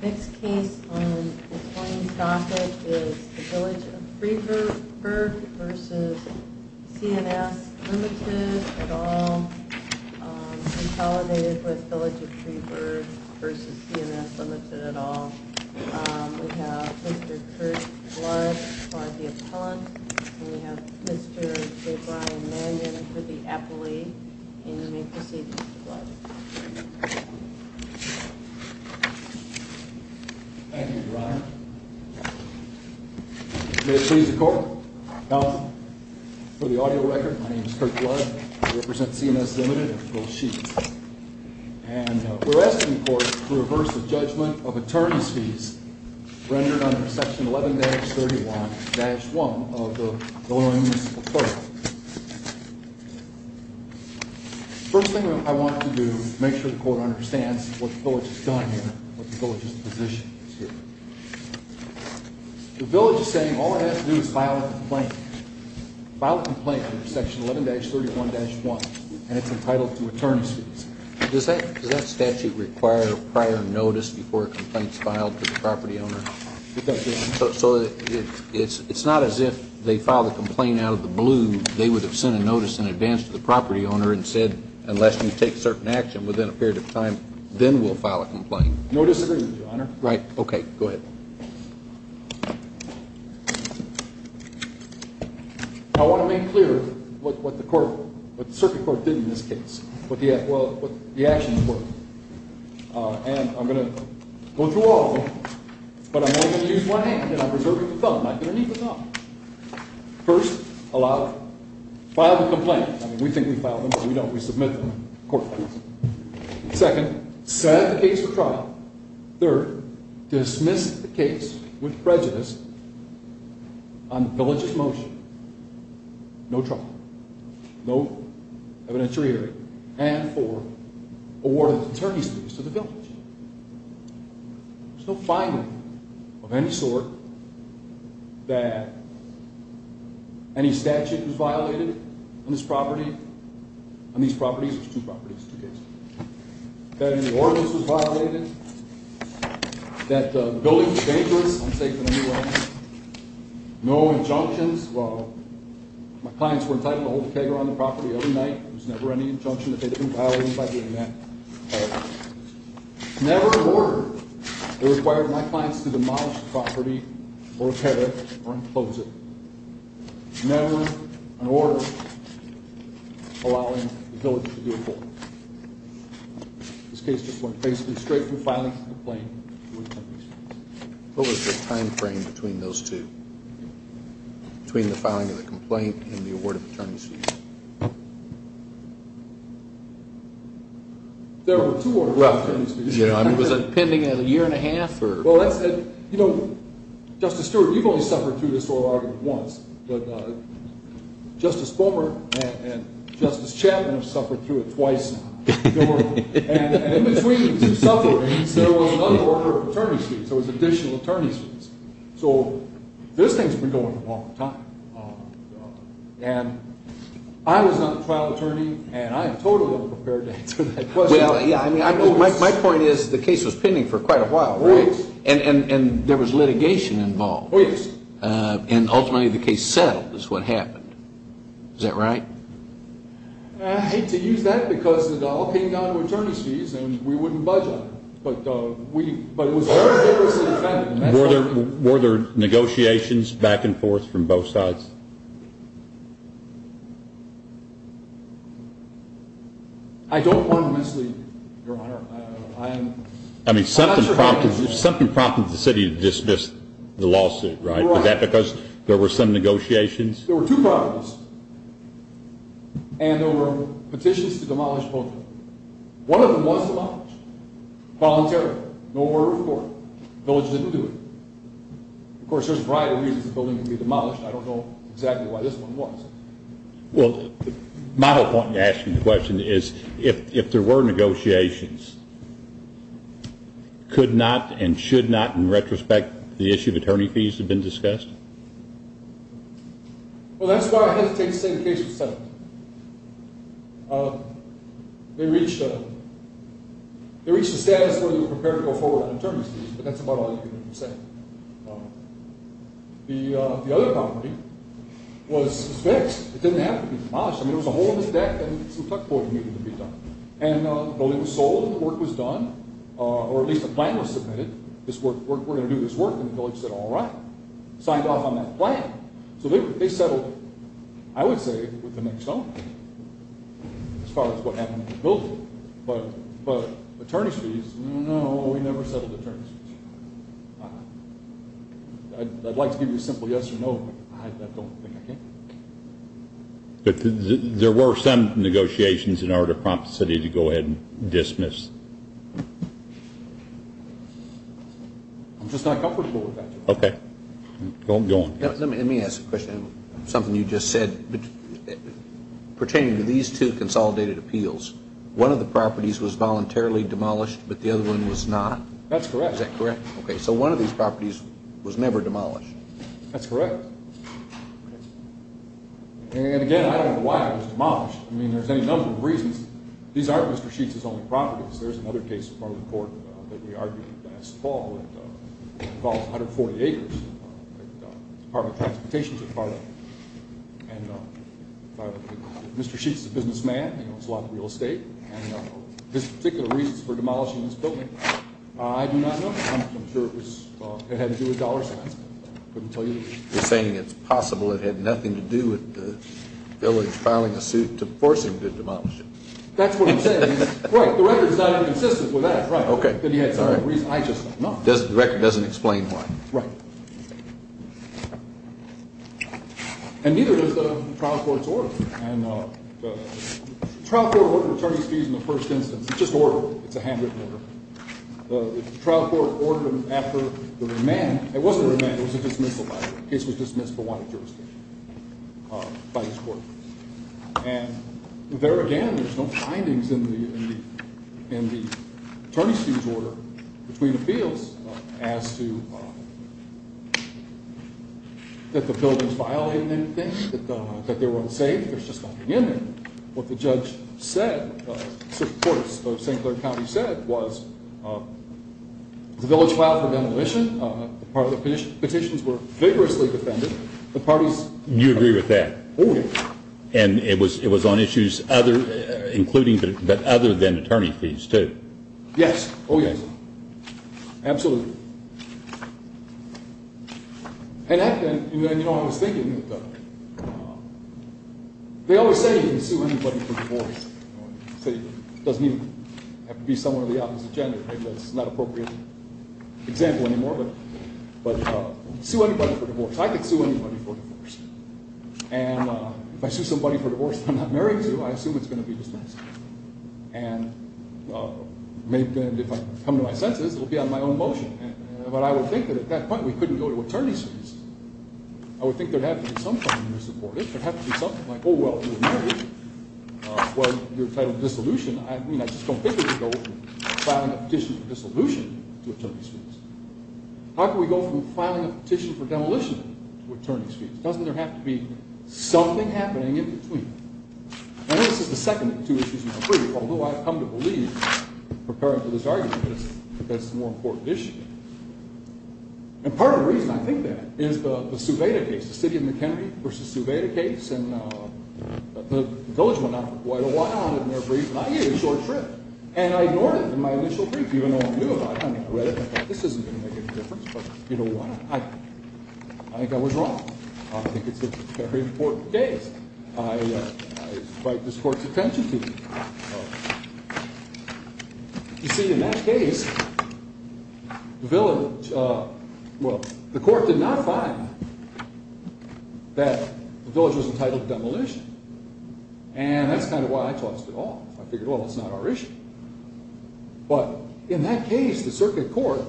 Next case on this morning's docket is the Village of Freeburg v. C and S, Ltd. at all, consolidated with Village of Freeburg v. C and S, Ltd. at all. We have Mr. Kurt Blood for the appellant, and we have Mr. J. Brian Mannion for the appellee, and you may proceed, Mr. Blood. Thank you, Your Honor. May it please the Court. Now, for the audio record, my name is Kurt Blood. I represent C and S, Ltd. and Phil Sheets. And we're asking the Court to reverse the judgment of attorney's fees rendered under Section 11-31-1 of the Illinois Municipal Code. First thing I want to do is make sure the Court understands what the Village has done here, what the Village's position is here. The Village is saying all it has to do is file a complaint. File a complaint under Section 11-31-1, and it's entitled to attorney's fees. Does that statute require prior notice before a complaint is filed to the property owner? So it's not as if they filed a complaint out of the blue. They would have sent a notice in advance to the property owner and said, unless you take certain action within a period of time, then we'll file a complaint. No disagreement, Your Honor. Right. Okay. Go ahead. I want to make clear what the Circuit Court did in this case, what the actions were. And I'm going to go through all of them, but I'm only going to use one hand, and I'm reserving the thumb. I'm not going to need the thumb. First, allow, file the complaint. I mean, we think we filed them, but we don't. We submit them to the Court of Appeals. Second, set the case for trial. Third, dismiss the case with prejudice on the Village's motion. No trial. No evidentiary hearing. And fourth, award attorney's fees to the Village. There's no finding of any sort that any statute was violated on this property, on these properties. There's two properties, two cases. That any ordinance was violated, that the building was dangerous, unsafe in any way. No injunctions. Well, my clients were entitled to hold a keg around the property every night. There was never any injunction that they had been violating by doing that. Never an order that required my clients to demolish the property or tear it or enclose it. Never an order allowing the Village to do a full. This case just went basically straight from filing the complaint to attorney's office. What was the time frame between those two? Between the filing of the complaint and the award of attorney's fees? There were two award of attorney's fees. Was it pending a year and a half? Well, that's it. You know, Justice Stewart, you've only suffered through this whole argument once. But Justice Boehmer and Justice Chapman have suffered through it twice now. And in between the two sufferings, there was another order of attorney's fees. There was additional attorney's fees. So this thing's been going a long time. And I was not the trial attorney, and I am totally unprepared to answer that question. My point is the case was pending for quite a while, right? And there was litigation involved. And ultimately the case settled is what happened. Is that right? I hate to use that because it all came down to attorney's fees, and we wouldn't budge on it. But it was very vigorously defended. Were there negotiations back and forth from both sides? I don't want to mislead you, Your Honor. I mean, something prompted the city to dismiss the lawsuit, right? Was that because there were some negotiations? There were two problems. And there were petitions to demolish the building. One of them was demolished voluntarily. No word of court. The village didn't do it. Of course, there's a variety of reasons the building can be demolished. I don't know exactly why this one was. Well, my whole point in asking the question is if there were negotiations, could not and should not, in retrospect, the issue of attorney fees have been discussed? Well, that's why I hesitate to say the case was settled. They reached a status where they were prepared to go forward on attorney's fees, but that's about all I can say. The other problem was it was fixed. It didn't have to be demolished. I mean, there was a hole in the deck and some tuck board needed to be done. And the building was sold, the work was done, or at least the plan was submitted, we're going to do this work, and the village said, all right, signed off on that plan. So they settled, I would say, with the next element as far as what happened to the building. But attorney's fees, no, we never settled attorney's fees. I'd like to give you a simple yes or no, but I don't think I can. There were some negotiations in order to prompt the city to go ahead and dismiss. I'm just not comfortable with that. Okay. Go on. Let me ask a question, something you just said. Pertaining to these two consolidated appeals, one of the properties was voluntarily demolished, but the other one was not? That's correct. Is that correct? Okay. So one of these properties was never demolished? That's correct. Okay. And, again, I don't know why it was demolished. I mean, there's any number of reasons. These aren't Mr. Sheets' only properties. There's another case in front of the court that we argued last fall that involves 140 acres that the Department of Transportation took part in. And Mr. Sheets is a businessman. He owns a lot of real estate. And his particular reasons for demolishing this building I do not know. I'm sure it had to do with dollar signs. I couldn't tell you. You're saying it's possible it had nothing to do with the village filing a suit to force him to demolish it. That's what I'm saying. Right. The record's not even consistent with that. Right. Okay. I just don't know. The record doesn't explain why. Right. And neither does the trial court's order. And the trial court order attorneys' fees in the first instance, it's just order. It's a handwritten order. The trial court ordered him after the remand. It wasn't a remand. It was a dismissal, by the way. The case was dismissed but wanted jurisdiction by this court. And there again, there's no findings in the attorney's fees order between appeals as to that the buildings violated anything, that they were unsafe. There's just nothing in there. And what the judge said, the court of St. Clair County said, was the village filed for demolition. Part of the petitions were vigorously defended. You agree with that? Oh, yes. And it was on issues other than attorney fees too? Yes. Oh, yes. Absolutely. And, you know, I was thinking that they always say you can sue anybody for divorce. It doesn't even have to be someone of the opposite gender. Maybe that's not an appropriate example anymore. But sue anybody for divorce. I could sue anybody for divorce. And if I sue somebody for divorce that I'm not married to, I assume it's going to be dismissed. And if I come to my senses, it will be on my own motion. But I would think that at that point we couldn't go to attorney's fees. I would think there would have to be some kind of misreportage. There would have to be something like, oh, well, it was marriage. Well, you're entitled to dissolution. I mean, I just don't think we could go from filing a petition for dissolution to attorney's fees. How could we go from filing a petition for demolition to attorney's fees? Doesn't there have to be something happening in between? And this is the second of two issues in my brief, although I've come to believe, preparing for this argument, that it's a more important issue. And part of the reason I think that is the Subeda case, the city of McHenry v. Subeda case. And the village went out for quite a while in their brief, and I gave a short trip. And I ignored it in my initial brief, even though I knew about it. I mean, I read it and I thought this isn't going to make any difference. But you know what? I think I was wrong. I think it's a very important case. And I invite this court's attention to it. You see, in that case, the village, well, the court did not find that the village was entitled to demolition. And that's kind of why I tossed it off. I figured, well, it's not our issue. But in that case, the circuit court,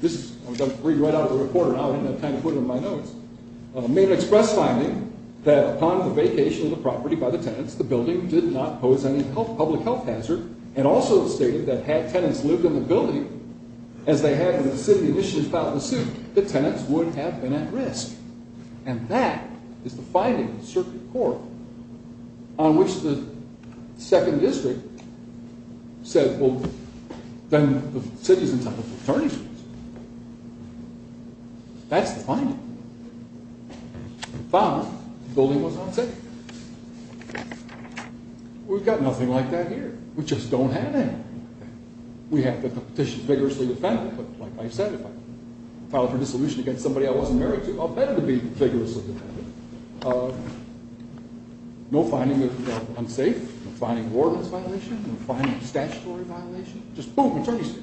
this is read right out of the reporter. I didn't have time to put it in my notes. Made an express finding that upon the vacation of the property by the tenants, the building did not pose any public health hazard, and also stated that had tenants lived in the building as they had in the city initially filed the suit, the tenants would have been at risk. And that is the finding of the circuit court on which the second district said, well, then the city is entitled to attorney fees. That's the finding. Found the building was unsafe. We've got nothing like that here. We just don't have any. We have the petition vigorously defended. But like I said, if I file for dissolution against somebody I wasn't married to, I'll better be vigorously defended. No finding of unsafe. No finding of warrants violation. No finding of statutory violation. Just boom, attorney's fee.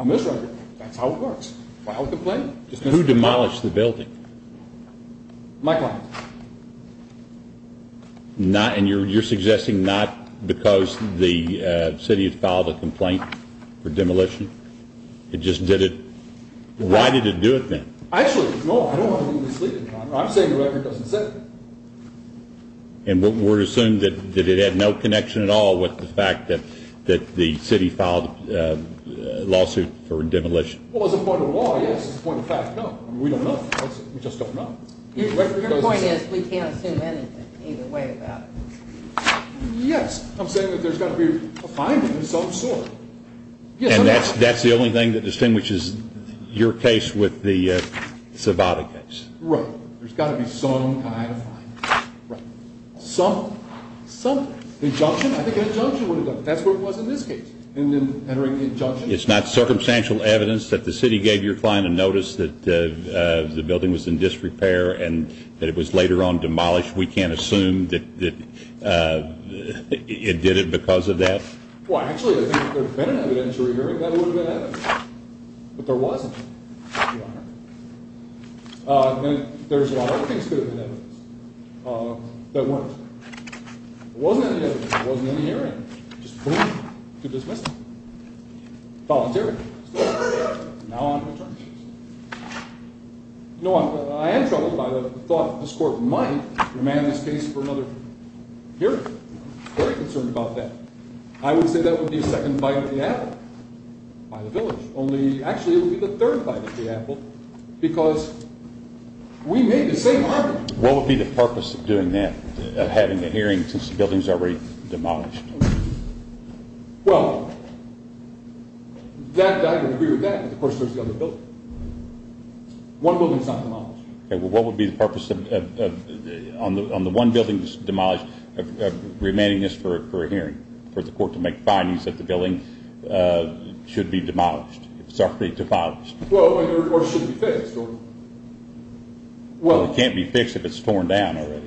On this record, that's how it works. File a complaint. Who demolished the building? My client. And you're suggesting not because the city had filed a complaint for demolition? It just did it? Why did it do it then? Actually, no, I don't want to be misleading you. I'm saying the record doesn't say that. And we're assuming that it had no connection at all with the fact that the city filed a lawsuit for demolition? Well, as a point of law, yes. As a point of fact, no. We don't know. We just don't know. Your point is we can't assume anything either way about it. Yes. I'm saying that there's got to be a finding of some sort. And that's the only thing that distinguishes your case with the Savada case? Right. There's got to be some kind of finding. Right. Some injunction? I think an injunction would have done it. That's what it was in this case. And then entering the injunction? It's not circumstantial evidence that the city gave your client a notice that the building was in disrepair and that it was later on demolished? We can't assume that it did it because of that? Well, actually, I think if there had been an evidentiary hearing, that would have been evidence. But there wasn't, Your Honor. And there's a lot of other things that could have been evidence that weren't. If there wasn't any evidence, if there wasn't any hearing, just boom, you're dismissed. Voluntary. Now on to attorneys. You know what? I am troubled by the thought that this court might remand this case for another hearing. I'm very concerned about that. I would say that would be a second bite at the apple by the village. Actually, it would be the third bite at the apple because we made the same argument. What would be the purpose of doing that, of having a hearing since the building is already demolished? Well, I would agree with that. But, of course, there's the other building. One building is not demolished. What would be the purpose on the one building that's demolished of remanding this for a hearing, for the court to make findings that the building should be demolished, if it's actually demolished? Well, or should be fixed. Well, it can't be fixed if it's torn down already.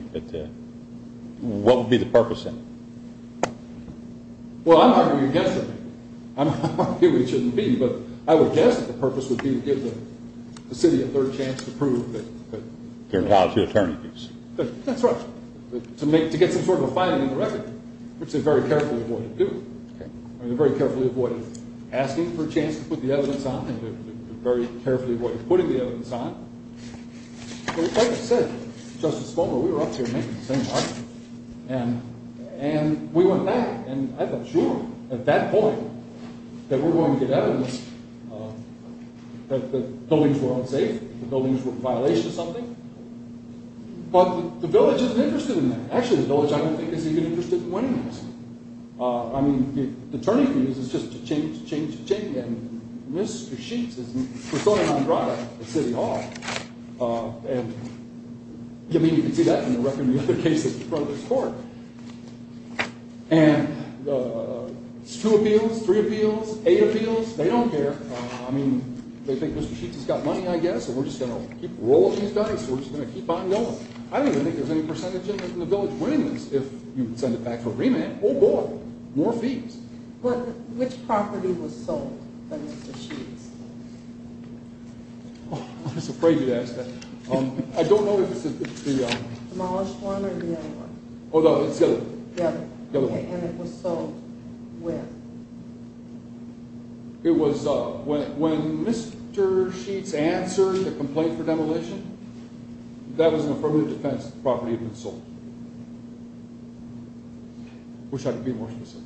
What would be the purpose then? Well, I'm arguing against that. I'm arguing it shouldn't be. But I would guess that the purpose would be to give the city a third chance to prove that. They're entitled to attorneys. That's right. To get some sort of a finding in the record, which they very carefully avoided doing. I mean, they very carefully avoided asking for a chance to put the evidence on. They very carefully avoided putting the evidence on. But, like I said, Justice Fulmer, we were up here making the same argument. And we went back. And I thought, sure, at that point, that we're going to get evidence that the buildings were unsafe, the buildings were a violation of something. But the village isn't interested in that. Actually, the village, I don't think, is even interested in winning this. I mean, the attorney fees is just a change, change, change. And Mr. Sheets is persona non grata at City Hall. And, I mean, you can see that in the record and the other cases in front of this court. And it's two appeals, three appeals, eight appeals. They don't care. I mean, they think Mr. Sheets has got money, I guess, and we're just going to keep rolling these dice. We're just going to keep on going. I don't even think there's any percentage in the village winning this. If you send it back for remand, oh, boy, more fees. Which property was sold by Mr. Sheets? I'm afraid you'd ask that. I don't know if it's the— Demolished one or the other one? Oh, no, it's the other one. The other one. And it was sold with? It was when Mr. Sheets answered the complaint for demolition, that was an affirmative defense property that had been sold. I wish I could be more specific.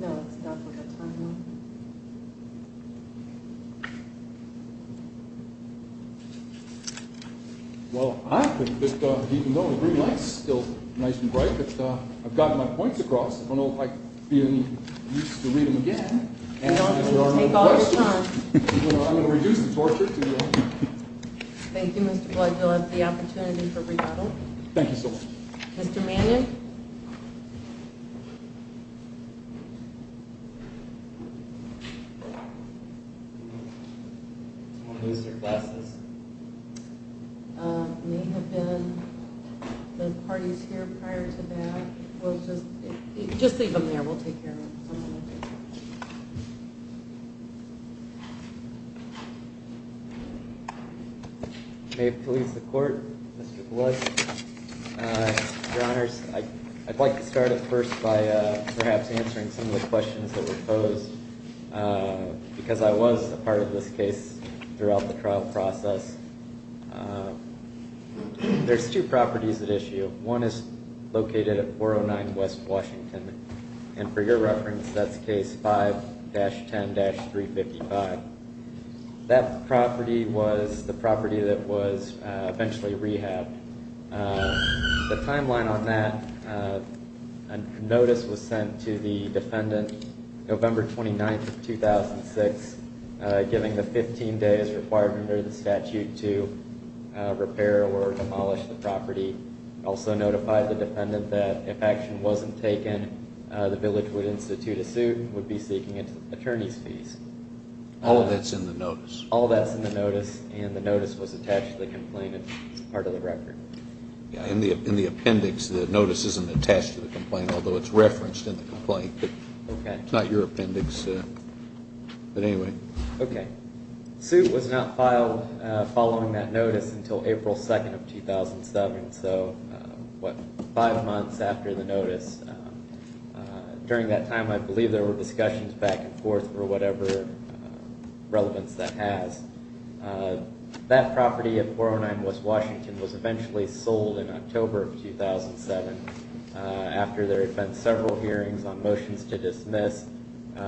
No, that's definitely a time limit. Well, I think that even though the green light is still nice and bright, I think that I've gotten my points across. If I don't like being used to reading again, and if there are no questions, I'm going to reduce the torture to no. Thank you, Mr. Blood. You'll have the opportunity for rebuttal. Thank you so much. Mr. Mannion? I don't want to lose their glasses. It may have been the parties here prior to that. We'll just leave them there. We'll take care of it. May it please the Court, Mr. Blood. Your Honors, I'd like to start at first by perhaps answering some of the questions that were posed, because I was a part of this case throughout the trial process. There's two properties at issue. One is located at 409 West Washington, and for your reference, that's case 5-10-355. That property was the property that was eventually rehabbed. The timeline on that notice was sent to the defendant November 29, 2006, giving the 15 days required under the statute to repair or demolish the property. It also notified the defendant that if action wasn't taken, the village would institute a suit and would be seeking an attorney's fees. All of that's in the notice? All of that's in the notice, and the notice was attached to the complaint as part of the record. In the appendix, the notice isn't attached to the complaint, although it's referenced in the complaint. It's not your appendix, but anyway. Okay. The suit was not filed following that notice until April 2, 2007, so what, five months after the notice. During that time, I believe there were discussions back and forth for whatever relevance that has. That property at 409 West Washington was eventually sold in October of 2007 after there had been several hearings on motions to dismiss,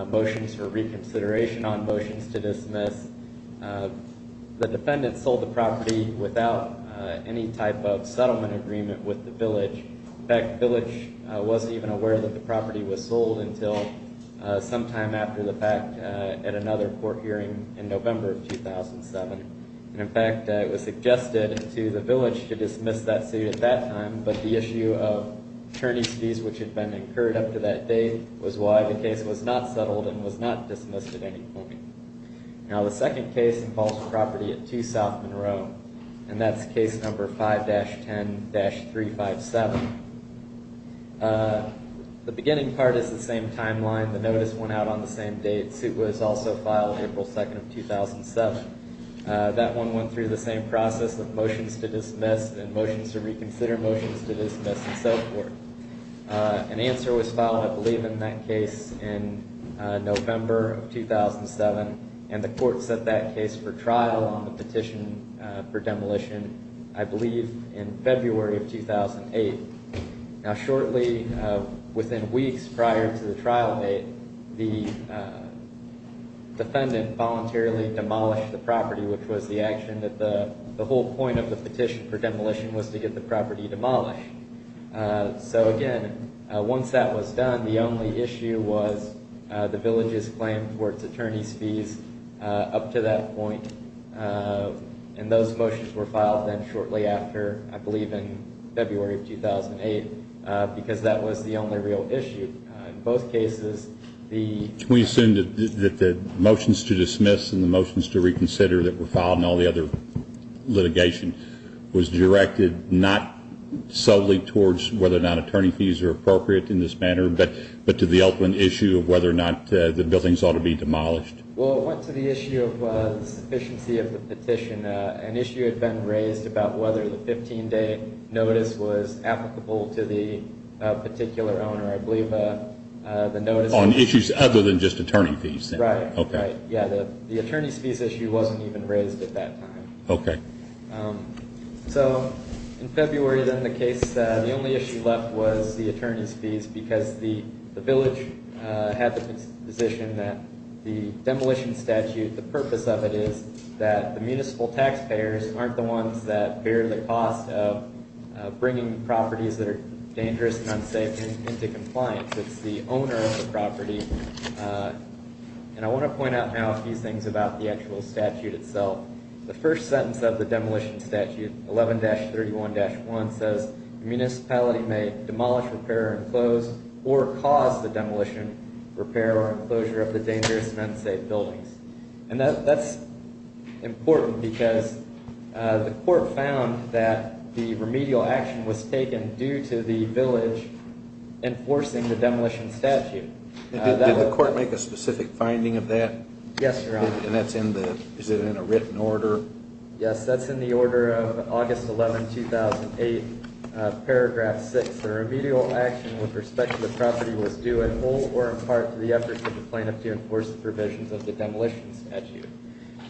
motions for reconsideration on motions to dismiss. The defendant sold the property without any type of settlement agreement with the village. In fact, the village wasn't even aware that the property was sold until sometime after the fact at another court hearing in November of 2007. In fact, it was suggested to the village to dismiss that suit at that time, but the issue of attorney's fees which had been incurred up to that date was why the case was not settled and was not dismissed at any point. Now, the second case involves property at 2 South Monroe, and that's case number 5-10-357. The beginning part is the same timeline. The notice went out on the same date. The suit was also filed April 2, 2007. That one went through the same process of motions to dismiss and motions to reconsider, motions to dismiss, and so forth. An answer was filed, I believe, in that case in November of 2007, and the court set that case for trial on the petition for demolition, I believe, in February of 2008. Now, shortly within weeks prior to the trial date, the defendant voluntarily demolished the property, which was the action that the whole point of the petition for demolition was to get the property demolished. So, again, once that was done, the only issue was the village's claim towards attorney's fees up to that point, and those motions were filed then shortly after, I believe in February of 2008, because that was the only real issue. In both cases, the... Can we assume that the motions to dismiss and the motions to reconsider that were filed and all the other litigation was directed not solely towards whether or not attorney fees are appropriate in this manner, but to the open issue of whether or not the buildings ought to be demolished? Well, it went to the issue of the sufficiency of the petition. An issue had been raised about whether the 15-day notice was applicable to the particular owner. I believe the notice... On issues other than just attorney fees, then? Right. Okay. But, yeah, the attorney's fees issue wasn't even raised at that time. Okay. So in February, then, the case, the only issue left was the attorney's fees because the village had the position that the demolition statute, the purpose of it is that the municipal taxpayers aren't the ones that bear the cost of bringing properties that are dangerous and unsafe into compliance. It's the owner of the property. And I want to point out a few things about the actual statute itself. The first sentence of the demolition statute, 11-31-1, says municipality may demolish, repair, or enclose or cause the demolition, repair, or enclosure of the dangerous and unsafe buildings. And that's important because the court found that the remedial action was taken due to the village enforcing the demolition statute. Did the court make a specific finding of that? Yes, Your Honor. And that's in the, is it in a written order? Yes, that's in the order of August 11, 2008, paragraph 6. The remedial action with respect to the property was due in full or in part to the efforts of the plaintiff to enforce the provisions of the demolition statute.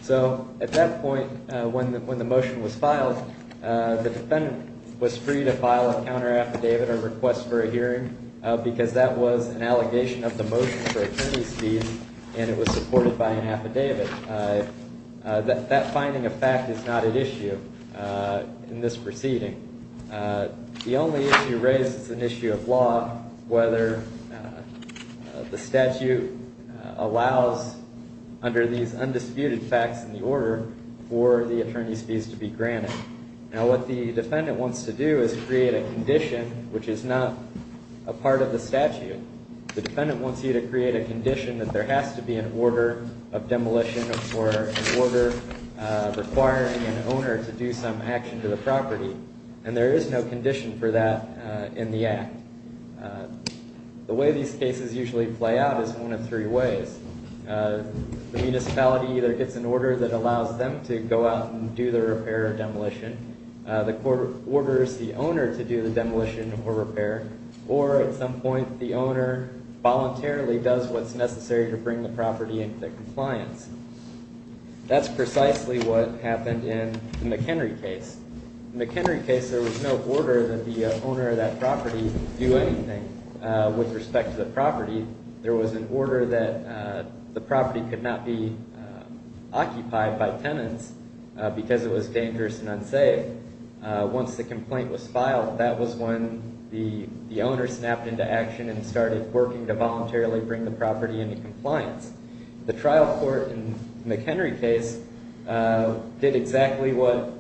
So at that point, when the motion was filed, the defendant was free to file a counter affidavit or request for a hearing because that was an allegation of the motion for attorney's fees and it was supported by an affidavit. That finding of fact is not at issue in this proceeding. The only issue raised is an issue of law, whether the statute allows, under these undisputed facts in the order, for the attorney's fees to be granted. Now, what the defendant wants to do is create a condition, which is not a part of the statute. The defendant wants you to create a condition that there has to be an order of demolition or an order requiring an owner to do some action to the property, and there is no condition for that in the act. The way these cases usually play out is one of three ways. The municipality either gets an order that allows them to go out and do their repair or demolition, the court orders the owner to do the demolition or repair, or at some point the owner voluntarily does what's necessary to bring the property into compliance. That's precisely what happened in the McHenry case. In the McHenry case, there was no order that the owner of that property do anything with respect to the property. There was an order that the property could not be occupied by tenants because it was dangerous and unsafe. Once the complaint was filed, that was when the owner snapped into action and started working to voluntarily bring the property into compliance. The trial court in the McHenry case did exactly what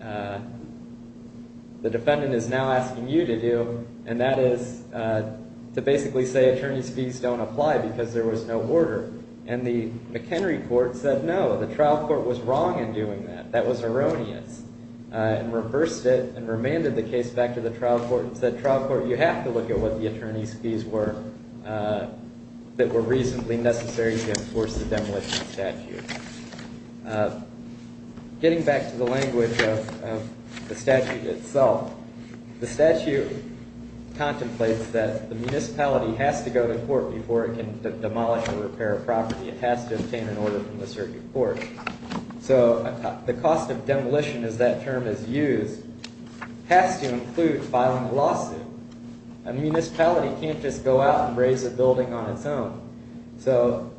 the defendant is now asking you to do, and that is to basically say attorney's fees don't apply because there was no order, and the McHenry court said no, the trial court was wrong in doing that, that was erroneous, and reversed it and remanded the case back to the trial court and said trial court, you have to look at what the attorney's fees were that were reasonably necessary to enforce the demolition statute. Getting back to the language of the statute itself, the statute contemplates that the municipality has to go to court before it can demolish or repair a property. It has to obtain an order from the circuit court. So the cost of demolition, as that term is used, has to include filing a lawsuit. A municipality can't just go out and raise a building on its own. So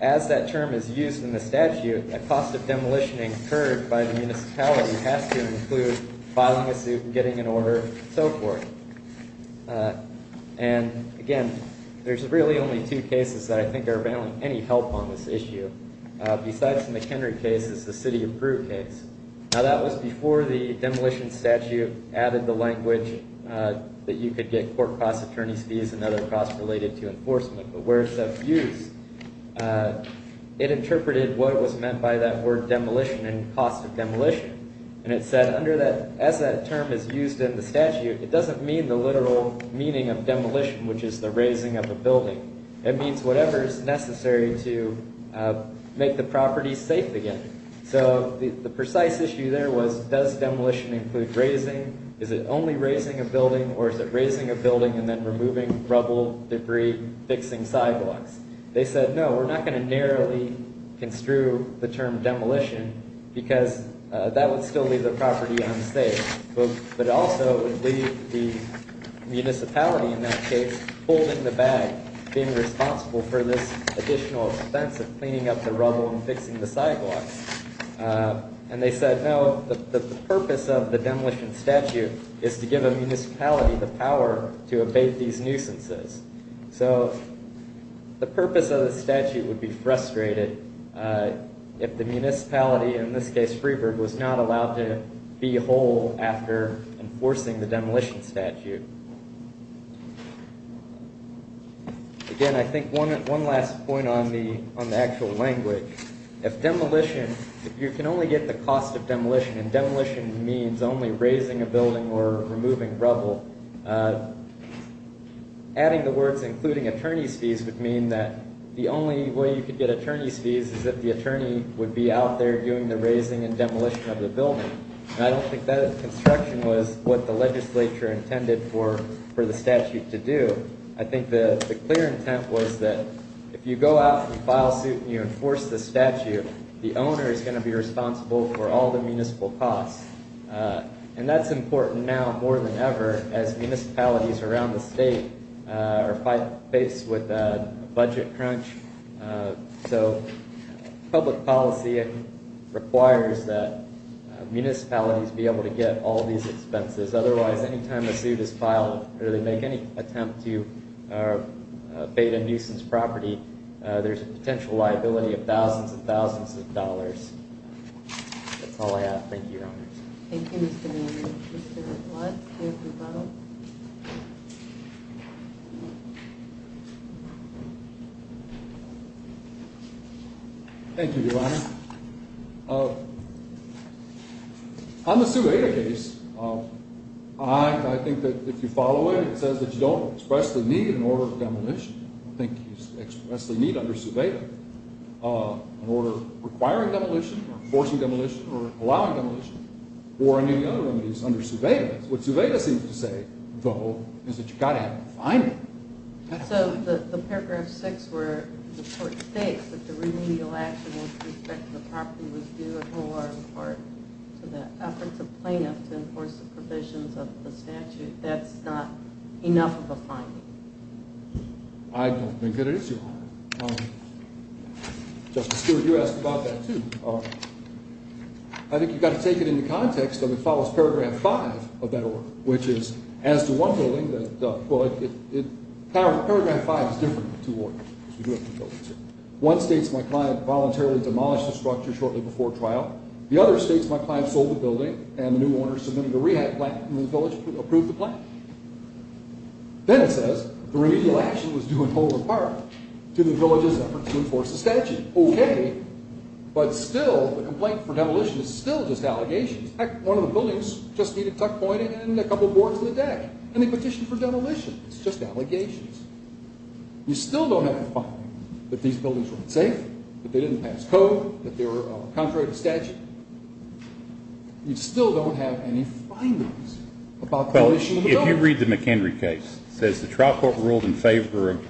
as that term is used in the statute, the cost of demolition incurred by the municipality has to include filing a suit, getting an order, and so forth. And again, there's really only two cases that I think are of any help on this issue. Besides the McHenry case, it's the city-approved case. Now that was before the demolition statute added the language that you could get court-cost attorney's fees and other costs related to enforcement. But where it's of use, it interpreted what was meant by that word demolition and cost of demolition. And it said as that term is used in the statute, it doesn't mean the literal meaning of demolition, which is the raising of a building. It means whatever is necessary to make the property safe again. So the precise issue there was does demolition include raising? Is it only raising a building, or is it raising a building and then removing rubble, debris, fixing sidewalks? They said, no, we're not going to narrowly construe the term demolition because that would still leave the property unsafe. But it also would leave the municipality, in that case, holding the bag, being responsible for this additional expense of cleaning up the rubble and fixing the sidewalks. And they said, no, the purpose of the demolition statute is to give a municipality the power to abate these nuisances. So the purpose of the statute would be frustrated if the municipality, in this case, Freeburg, was not allowed to be whole after enforcing the demolition statute. Again, I think one last point on the actual language. I think if demolition, if you can only get the cost of demolition, and demolition means only raising a building or removing rubble, adding the words including attorney's fees would mean that the only way you could get attorney's fees is if the attorney would be out there doing the raising and demolition of the building. And I don't think that construction was what the legislature intended for the statute to do. I think the clear intent was that if you go out and file suit and you enforce the statute, the owner is going to be responsible for all the municipal costs. And that's important now more than ever as municipalities around the state are faced with a budget crunch. So public policy requires that municipalities be able to get all these expenses. Otherwise, any time a suit is filed or they make any attempt to evade a nuisance property, there's a potential liability of thousands and thousands of dollars. That's all I have. Thank you, Your Honor. Thank you, Mr. Miller. Mr. Blatt, do you have a rebuttal? Thank you, Your Honor. On the Suveda case, I think that if you follow it, it says that you don't expressly need an order of demolition. I think you expressly need under Suveda an order requiring demolition or enforcing demolition or allowing demolition or any other remedies under Suveda. What Suveda seems to say, though, is that you've got to have a finding. So the Paragraph 6 where the court states that the remedial action with respect to the property was due in full or in part to the efforts of plaintiffs to enforce the provisions of the statute, that's not enough of a finding? I don't think it is, Your Honor. Justice Stewart, you asked about that, too. I think you've got to take it into context that it follows Paragraph 5 of that order, which is as to one building that it does. Paragraph 5 is different in two orders. One states my client voluntarily demolished the structure shortly before trial. The other states my client sold the building and the new owner submitted a rehab plan for the village to approve the plan. Then it says the remedial action was due in full or in part to the village's efforts to enforce the statute. Okay, but still the complaint for demolition is still just allegations. In fact, one of the buildings just needed a tuck point and a couple boards in the deck, and they petitioned for demolition. It's just allegations. You still don't have a finding that these buildings were unsafe, that they didn't pass code, that they were contrary to statute. You still don't have any findings about the demolition of the building. Well, if you read the McHenry case, it says the trial court ruled in favor of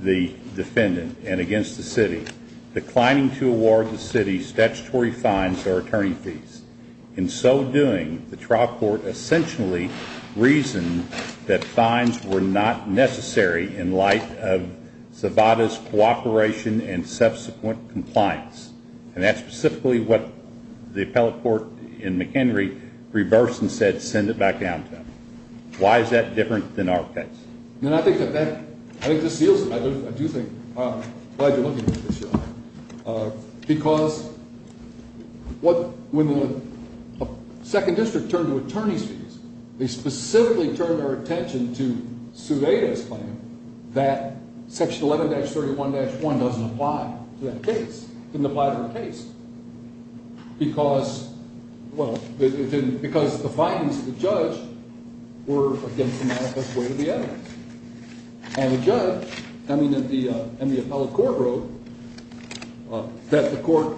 the defendant and against the city, declining to award the city statutory fines or attorney fees. In so doing, the trial court essentially reasoned that fines were not necessary in light of Zavada's cooperation and subsequent compliance. And that's specifically what the appellate court in McHenry reversed and said send it back down to them. Why is that different than our case? And I think that seals it. I do think. I'm glad you're looking at this, John, because when the second district turned to attorney's fees, they specifically turned their attention to Zavada's claim that Section 11-31-1 doesn't apply to that case, because the findings of the judge were against the manifest way of the evidence. And the judge and the appellate court wrote that the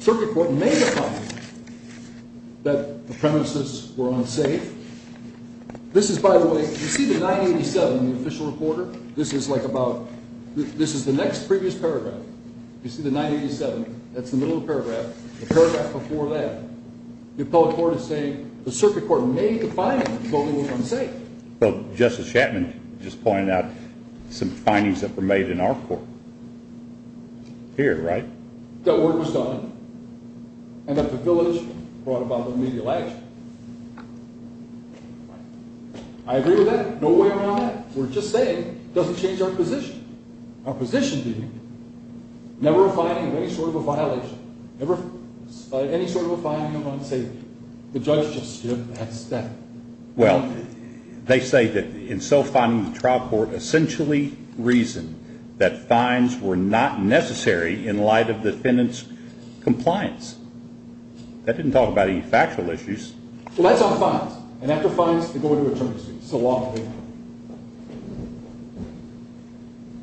circuit court may have found that the premises were unsafe. This is, by the way, you see the 987 in the official reporter? This is the next previous paragraph. You see the 987? That's the middle of the paragraph. The paragraph before that. The appellate court is saying the circuit court made the findings, but they weren't unsafe. Well, Justice Chapman just pointed out some findings that were made in our court here, right? That work was done and that the village brought about remedial action. I agree with that. No way around that. We're just saying it doesn't change our position. Our position being never a finding of any sort of a violation, never any sort of a finding of unsafety. The judge just stood and said that. Well, they say that in self-finding the trial court, essentially reasoned that fines were not necessary in light of the defendant's compliance. That didn't talk about any factual issues. Well, that's on fines. And after fines, they go into attorney's fees. It's a law thing.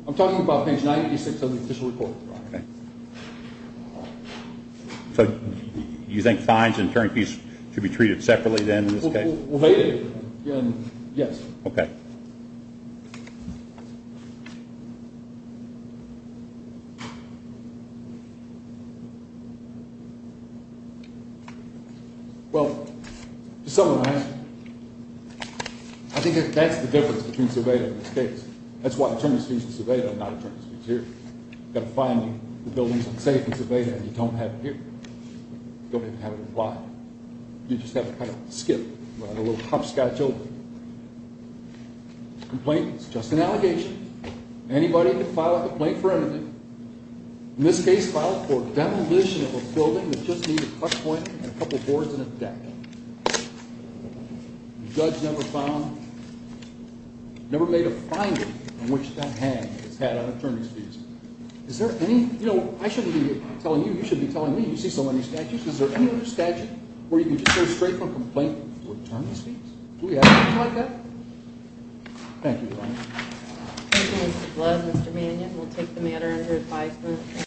I'm talking about page 986 of the official report. Okay. So you think fines and attorney fees should be treated separately then in this case? Well, they did. Yes. Okay. Well, to summarize, I think that's the difference between Cerveda and this case. That's why attorney's fees in Cerveda and not attorney's fees here. You've got a finding, the building's unsafe in Cerveda, and you don't have it here. You don't even have it implied. You just have a kind of skip, a little hopscotch open. Complaint is just an allegation. Anybody can file a complaint for anything. In this case, filed for demolition of a building that just needed a clutch point and a couple boards and a deck. The judge never found, never made a finding on which that hang was had on attorney's fees. Is there any, you know, I shouldn't be telling you, you should be telling me. You see so many statutes. Is there any other statute where you can just go straight from complaint to attorney's fees? Do we have anything like that? Thank you, Your Honor. Thank you, Mr. Blood, Mr. Mannion. We'll take the matter under advisement.